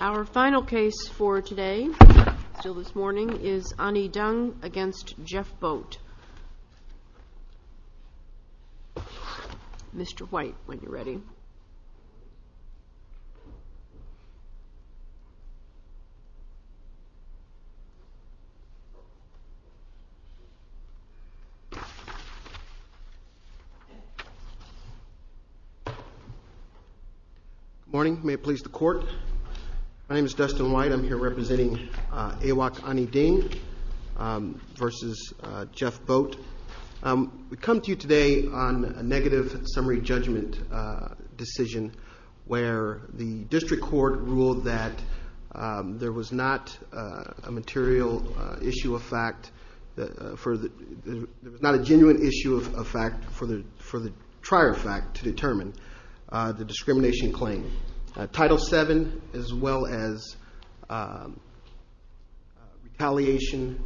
Our final case for today is Ani-Deng v. Jeffboat. Good morning, may it please the court, my name is Dustin White, I'm here representing Awok Ani-Deng v. Jeffboat. We come to you today on a negative summary judgment decision where the district court ruled that there was not a material issue of fact, not a genuine issue of fact for the trier fact to determine the discrimination claim. Title 7 as well as retaliation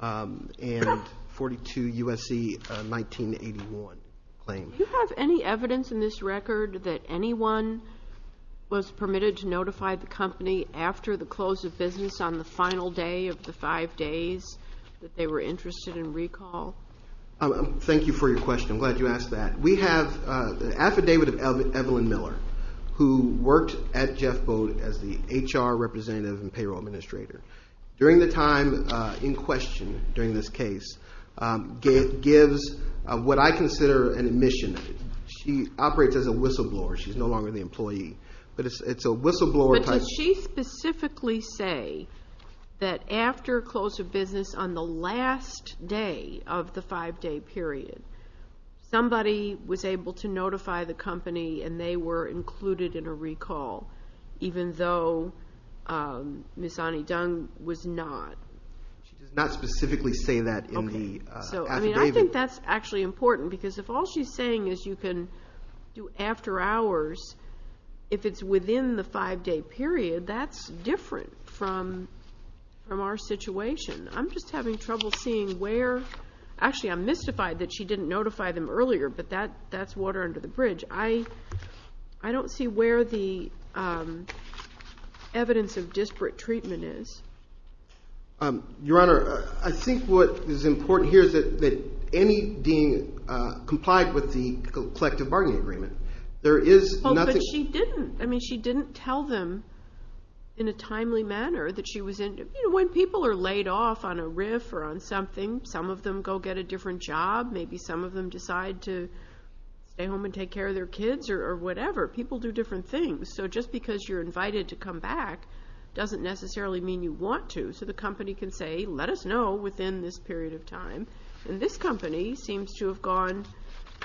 and 42 U.S.C. 1981 claim. Do you have any evidence in this record that anyone was permitted to notify the company after the close of business on the final day of the five days that they were interested in recall? Thank you for your question, I'm glad you asked that. We have the affidavit of Evelyn Miller who worked at Jeffboat as the HR representative and payroll administrator. During the time in question, during this case, gives what I consider an admission. She operates as a whistleblower, she's no longer the employee, but it's a whistleblower type... But did she specifically say that after close of business on the last day of the five day period, somebody was able to notify the company and they were included in a recall even though Ms. Annie Dung was not? She did not specifically say that in the affidavit. I think that's actually important because if all she's saying is you can do after hours, if it's within the five day period, that's different from our situation. I'm just having trouble seeing where... Actually I'm mystified that she didn't notify them earlier, but that's water under the bridge. I don't see where the evidence of disparate treatment is. Your Honor, I think what is important here is that Annie Dung complied with the collective bargaining agreement. There is nothing... But she didn't. I mean she didn't tell them in a timely manner that she was in... When people are laid off on a riff or on something, some of them go get a different job, maybe some of them decide to stay home and take care of their kids or whatever, people do different things. So just because you're invited to come back doesn't necessarily mean you want to. So the company can say, let us know within this period of time. This company seems to have gone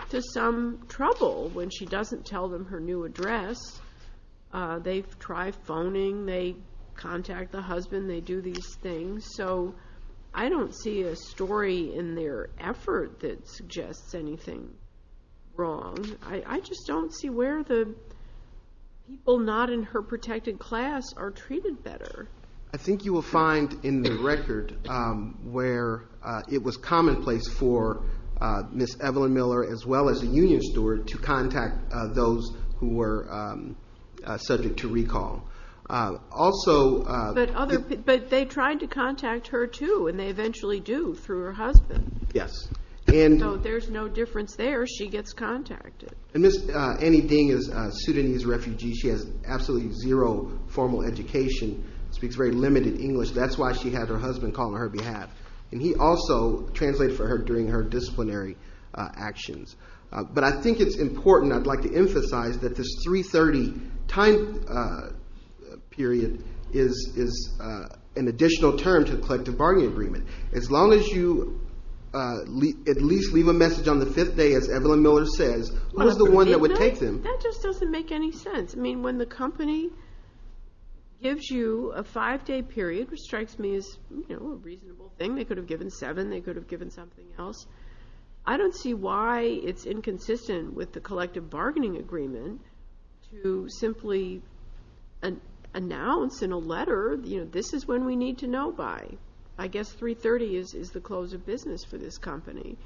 to some trouble when she doesn't tell them her new address. They try phoning, they contact the husband, they do these things. So I don't see a story in their effort that suggests anything wrong. I just don't see where the people not in her protected class are treated better. I think you will find in the record where it was commonplace for Ms. Evelyn Miller as well as the union steward to contact those who were subject to recall. But they tried to contact her too and they eventually do through her husband. Yes. So there's no difference there, she gets contacted. And Ms. Annie Ding is a Sudanese refugee, she has absolutely zero formal education, speaks very limited English, that's why she had her husband call on her behalf. And he also translated for her during her disciplinary actions. But I think it's important, I'd like to emphasize that this 3.30 time period is an additional term to the collective bargaining agreement. As long as you at least leave a message on the fifth day, as Evelyn Miller says, who's the one that would take them? That just doesn't make any sense. I mean, when the company gives you a five day period, which strikes me as a reasonable thing, they could have given seven, they could have given something else. I don't see why it's inconsistent with the collective bargaining agreement to simply announce in a letter, you know, this is when we need to know by. I guess 3.30 is the close of business for this company.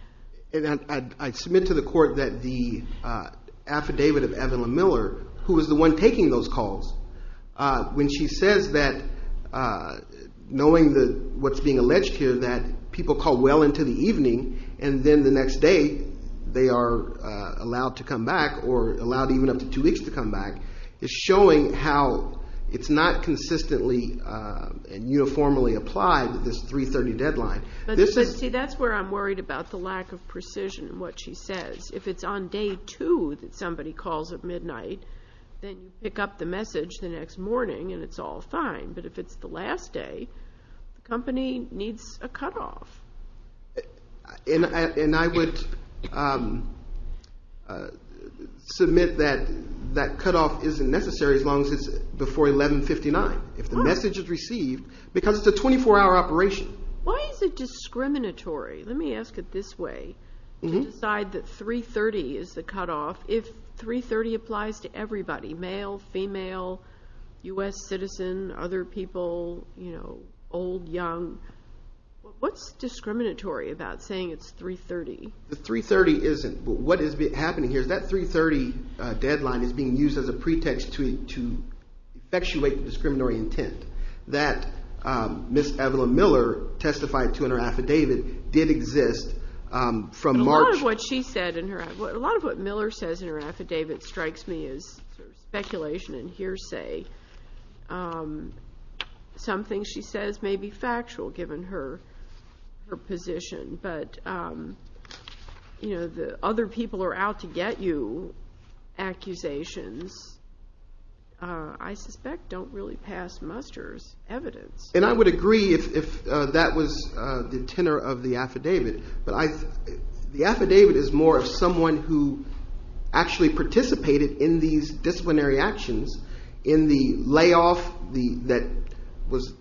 And I submit to the court that the affidavit of Evelyn Miller, who was the one taking those calls, when she says that, knowing what's being alleged here, that people call well into the evening, and then the next day they are allowed to come back or allowed even up to two weeks to come back, is showing how it's not consistently and uniformly applied, this 3.30 deadline. But see, that's where I'm worried about the lack of precision in what she says. If it's on day two that somebody calls at midnight, then you pick up the message the next morning and it's all fine. But if it's the last day, the company needs a cutoff. And I would submit that that cutoff isn't necessary as long as it's before 11.59, if the message is received, because it's a 24-hour operation. Why is it discriminatory, let me ask it this way, to decide that 3.30 is the cutoff if 3.30 applies to everybody, male, female, U.S. citizen, other people, you know, old, young. What's discriminatory about saying it's 3.30? The 3.30 isn't. What is happening here is that 3.30 deadline is being used as a pretext to effectuate the discriminatory intent. That Ms. Evelyn Miller testified to in her affidavit did exist from March. A lot of what she said in her affidavit, a lot of what Miller says in her affidavit strikes me as speculation and hearsay. Something she says may be factual, given her position. But, you know, the other people are out to get you, accusations, I suspect, don't really pass muster as evidence. And I would agree if that was the tenor of the affidavit. But the affidavit is more of someone who actually participated in these disciplinary actions in the layoff that was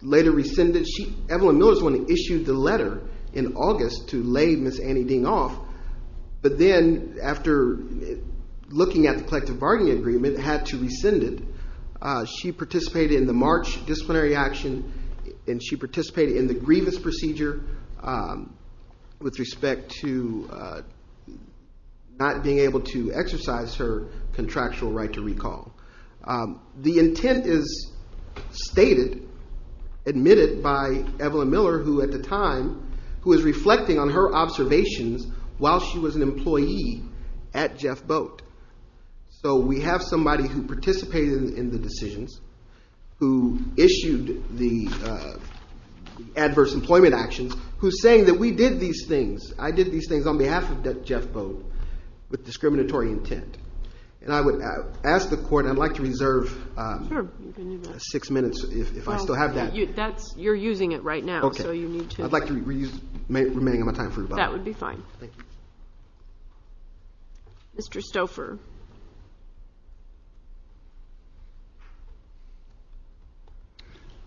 later rescinded. Evelyn Miller is the one who issued the letter in August to lay Ms. Annie Ding off. But then after looking at the collective bargaining agreement, had to rescind it. She participated in the March disciplinary action, and she participated in the grievance procedure with respect to not being able to exercise her contractual right to recall. The intent is stated, admitted by Evelyn Miller, who at the time, who is reflecting on her observations while she was an employee at Jeff Boat. So we have somebody who participated in the decisions, who issued the adverse employment actions, who's saying that we did these things, I did these things on behalf of Jeff Boat with discriminatory intent. And I would ask the court, I'd like to reserve six minutes if I still have that. You're using it right now, so you need to. I'd like to remain on my time for rebuttal. That would be fine. Mr. Stouffer.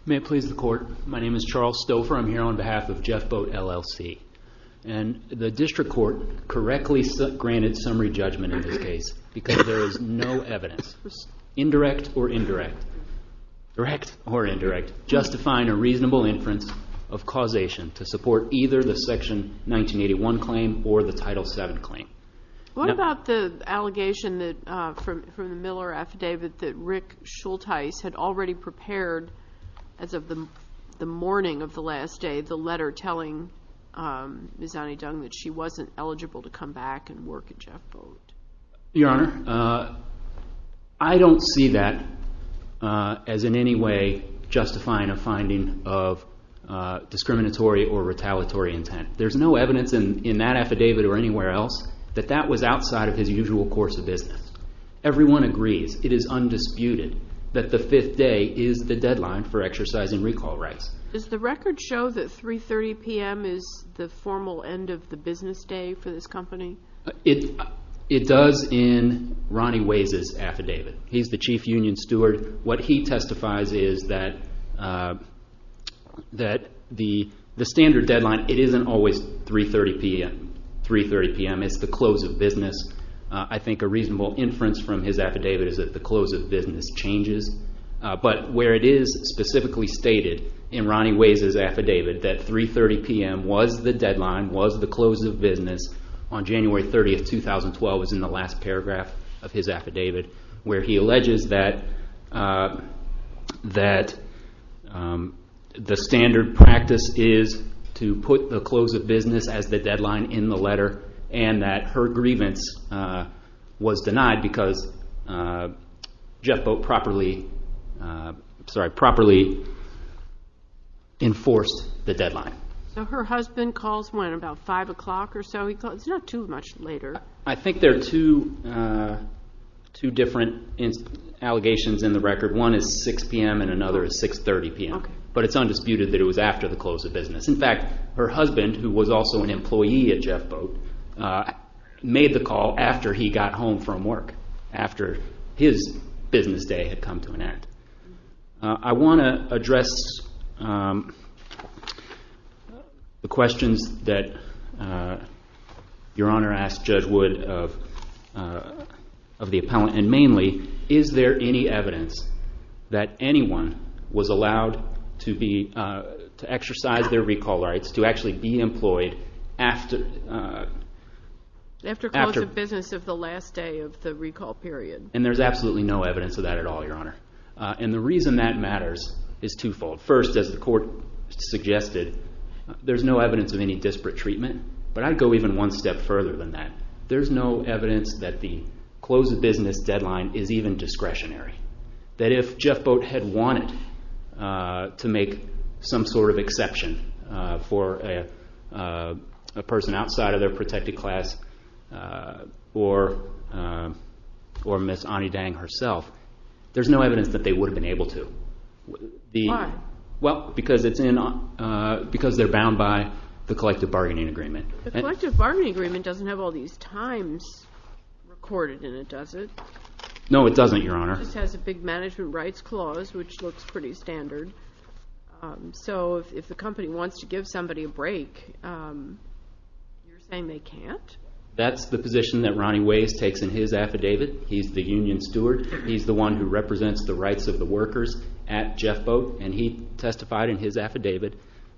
May it please the court. My name is Charles Stouffer. I'm here on behalf of Jeff Boat, LLC. And the district court correctly granted summary judgment in this case because there is no evidence, indirect or indirect, direct or indirect, justifying a reasonable inference of causation to support either the Section 1981 claim or the Title VII claim. What about the allegation from the Miller affidavit that Rick Schultheis had already prepared as of the morning of the last day, the letter telling Ms. Annie Dung that she wasn't eligible to come back and work at Jeff Boat? Your Honor, I don't see that as in any way justifying a finding of discriminatory or retaliatory intent. There's no evidence in that affidavit or anywhere else that that was outside of his usual course of business. Everyone agrees, it is undisputed, that the fifth day is the deadline for exercising recall rights. Does the record show that 3.30 p.m. is the formal end of the business day for this company? It does in Ronnie Waze's affidavit. He's the chief union steward. What he testifies is that the standard deadline, it isn't always 3.30 p.m. It's the close of business. I think a reasonable inference from his affidavit is that the close of business changes, but where it is specifically stated in Ronnie Waze's affidavit that 3.30 p.m. was the deadline, was the close of business, on January 30, 2012 was in the last paragraph of his affidavit where he alleges that the standard practice is to put the close of business as the deadline in the letter and that her grievance was denied because Jeff Boat properly enforced the deadline. So her husband calls when? About 5 o'clock or so? It's not too much later. I think there are two different allegations in the record. One is 6 p.m. and another is 6.30 p.m., but it's undisputed that it was after the close of business. In fact, her husband, who was also an employee at Jeff Boat, made the call after he got home from work, after his business day had come to an end. I want to address the questions that Your Honor asked Judge Wood of the appellant, and mainly is there any evidence that anyone was allowed to exercise their recall rights to actually be employed after? After close of business of the last day of the recall period. And there's absolutely no evidence of that at all, Your Honor. And the reason that matters is twofold. First, as the court suggested, there's no evidence of any disparate treatment, but I'd go even one step further than that. There's no evidence that the close of business deadline is even discretionary, that if Jeff Boat had wanted to make some sort of exception for a person outside of their protected class or Ms. Anidang herself, there's no evidence that they would have been able to. Why? Because they're bound by the collective bargaining agreement. The collective bargaining agreement doesn't have all these times recorded in it, does it? No, it doesn't, Your Honor. It just has a big management rights clause, which looks pretty standard. So if the company wants to give somebody a break, you're saying they can't? That's the position that Ronnie Ways takes in his affidavit. He's the union steward. He's the one who represents the rights of the workers at Jeff Boat, and he testified in his affidavit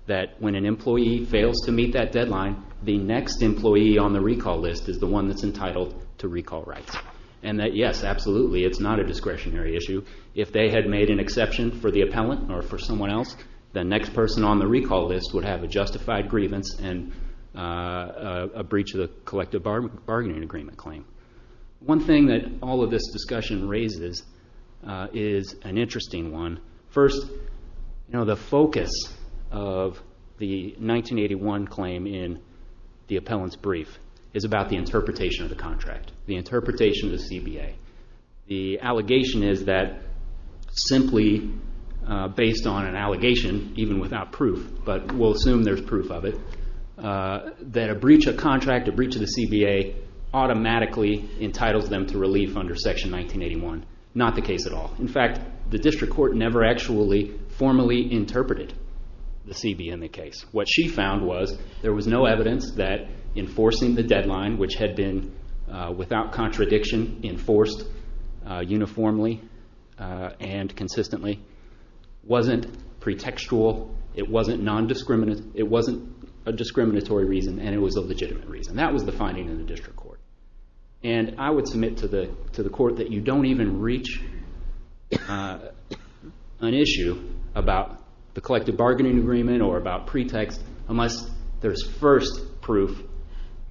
that when an employee fails to meet that deadline, the next employee on the recall list is the one that's entitled to recall rights. And that, yes, absolutely, it's not a discretionary issue. If they had made an exception for the appellant or for someone else, the next person on the recall list would have a justified grievance and a breach of the collective bargaining agreement claim. One thing that all of this discussion raises is an interesting one. First, the focus of the 1981 claim in the appellant's brief is about the interpretation of the contract. The interpretation of the CBA. The allegation is that simply based on an allegation, even without proof, but we'll assume there's proof of it, that a breach of contract, a breach of the CBA, automatically entitles them to relief under Section 1981. Not the case at all. In fact, the district court never actually formally interpreted the CBA in the case. What she found was there was no evidence that enforcing the deadline, which had been, without contradiction, enforced uniformly and consistently, wasn't pretextual, it wasn't a discriminatory reason, and it was a legitimate reason. That was the finding in the district court. And I would submit to the court that you don't even reach an issue about the collective bargaining agreement or about pretext unless there's first proof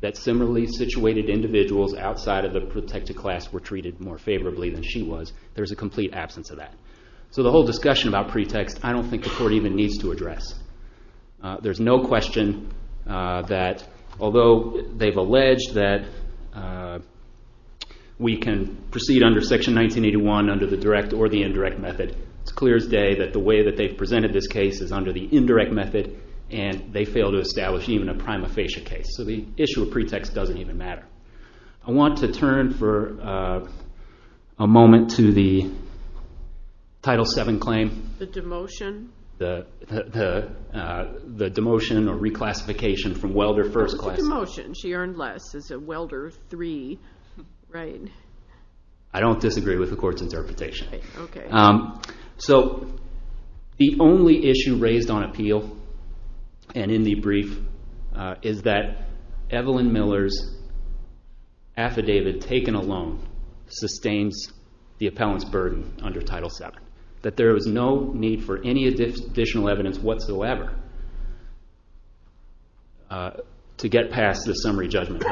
that similarly situated individuals outside of the protected class were treated more favorably than she was. There's a complete absence of that. So the whole discussion about pretext I don't think the court even needs to address. There's no question that although they've alleged that we can proceed under Section 1981 under the direct or the indirect method, it's clear as day that the way that they've presented this case is under the indirect method and they fail to establish even a prima facie case. So the issue of pretext doesn't even matter. I want to turn for a moment to the Title VII claim. The demotion? The demotion or reclassification from welder first class. It's a demotion. She earned less as a welder three. I don't disagree with the court's interpretation. So the only issue raised on appeal and in the brief is that Evelyn Miller's affidavit taken alone sustains the appellant's burden under Title VII, that there is no need for any additional evidence whatsoever to get past the summary judgment.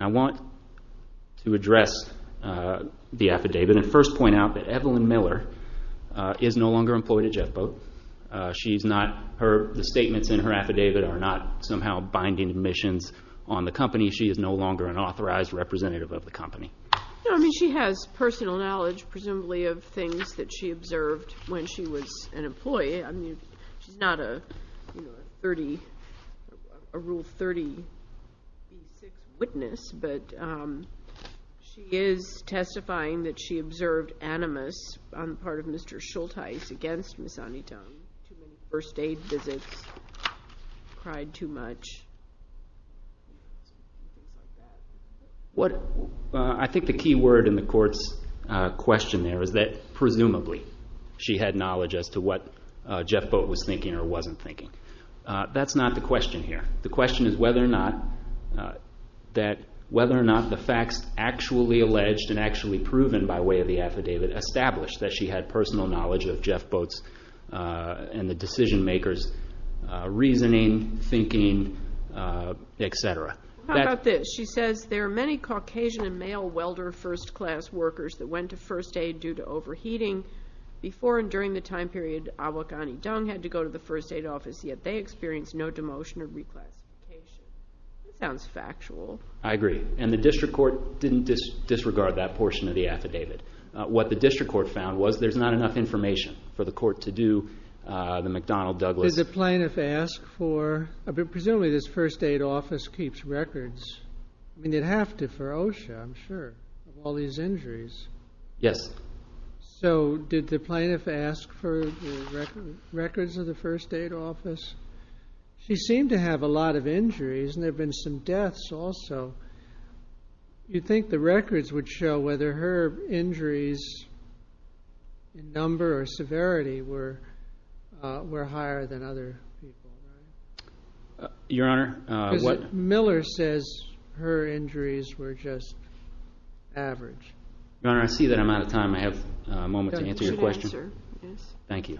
I want to address the affidavit. First point out that Evelyn Miller is no longer employed at JetBoat. The statements in her affidavit are not somehow binding admissions on the company. She is no longer an authorized representative of the company. She has personal knowledge presumably of things that she observed when she was an employee. She's not a Rule 36 witness, but she is testifying that she observed animus on the part of Mr. Schulteis against Ms. Anitone, too many first aid visits, cried too much, things like that. I think the key word in the court's question there is that presumably she had knowledge as to what JetBoat was thinking or wasn't thinking. That's not the question here. The question is whether or not the facts actually alleged and actually proven by way of the affidavit established that she had personal knowledge of JetBoat's and the decision makers' reasoning, thinking, et cetera. How about this? She says there are many Caucasian and male welder first class workers that went to first aid due to overheating. Before and during the time period, Awokani Dung had to go to the first aid office, yet they experienced no demotion or requests. This sounds factual. I agree. And the district court didn't disregard that portion of the affidavit. What the district court found was there's not enough information for the court to do the McDonnell Douglas. Did the plaintiff ask for, presumably this first aid office keeps records. You'd have to for OSHA, I'm sure, of all these injuries. Yes. So did the plaintiff ask for records of the first aid office? She seemed to have a lot of injuries, and there have been some deaths also. Do you think the records would show whether her injuries in number or severity were higher than other people? Your Honor, what Miller says her injuries were just average. Your Honor, I see that I'm out of time. I have a moment to answer your question. Thank you.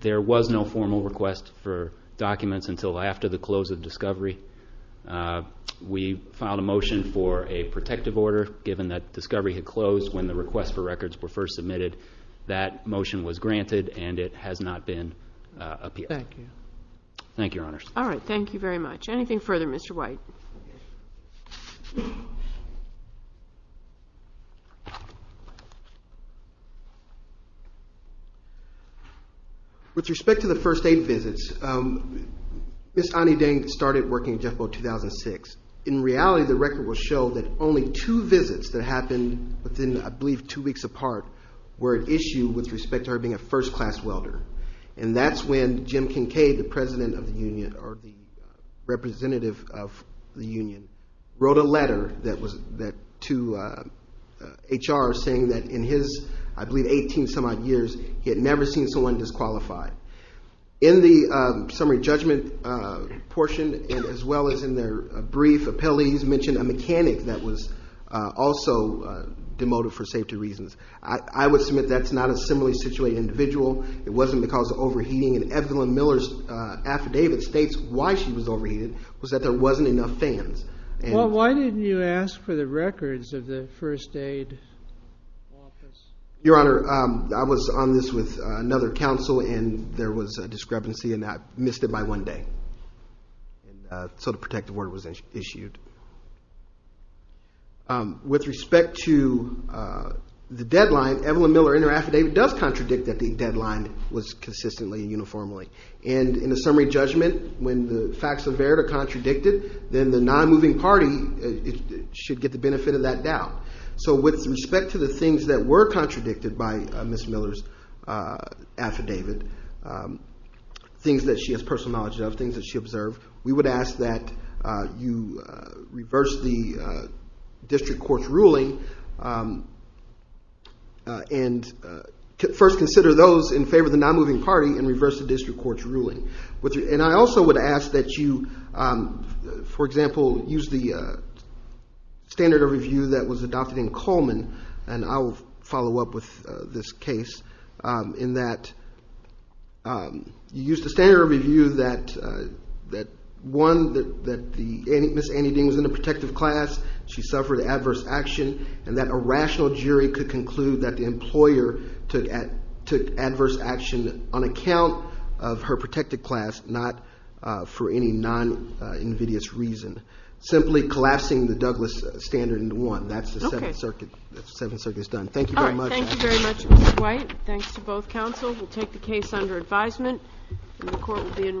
There was no formal request for documents until after the close of discovery. We filed a motion for a protective order given that discovery had closed when the request for records were first submitted. That motion was granted, and it has not been appealed. Thank you. Thank you, Your Honor. All right. Thank you very much. Anything further, Mr. White? With respect to the first aid visits, Ms. Ani Deng started working at Jeff Boat 2006. In reality, the record will show that only two visits that happened within, I believe, two weeks apart were at issue with respect to her being a first-class welder, and that's when Jim Kincaid, the president of the union, or the representative of the union, wrote a letter to HR saying that in his, I believe, 18-some odd years, he had never seen someone disqualified. In the summary judgment portion, as well as in their brief appellees, mentioned a mechanic that was also demoted for safety reasons. I would submit that's not a similarly situated individual. It wasn't because of overheating, and Evelyn Miller's affidavit states why she was overheated, was that there wasn't enough fans. Well, why didn't you ask for the records of the first aid office? Your Honor, I was on this with another counsel, and there was a discrepancy, and I missed it by one day. So the protective order was issued. With respect to the deadline, Evelyn Miller in her affidavit does contradict that the deadline was consistently and uniformly. And in the summary judgment, when the facts of error are contradicted, then the non-moving party should get the benefit of that doubt. So with respect to the things that were contradicted by Ms. Miller's affidavit, things that she has personal knowledge of, things that she observed, we would ask that you reverse the district court's ruling and first consider those in favor of the non-moving party and reverse the district court's ruling. And I also would ask that you, for example, use the standard of review that was adopted in Coleman, and I will follow up with this case, in that you used the standard of review that, one, that Ms. Annie Ding was in a protective class, she suffered adverse action, and that a rational jury could conclude that the employer took adverse action on account of her protected class, not for any non-invidious reason. Simply collapsing the Douglas standard into one. That's the Seventh Circuit's done. Thank you very much. Thank you very much, Ms. White. Thanks to both counsel. We'll take the case under advisement, and the court will be in recess.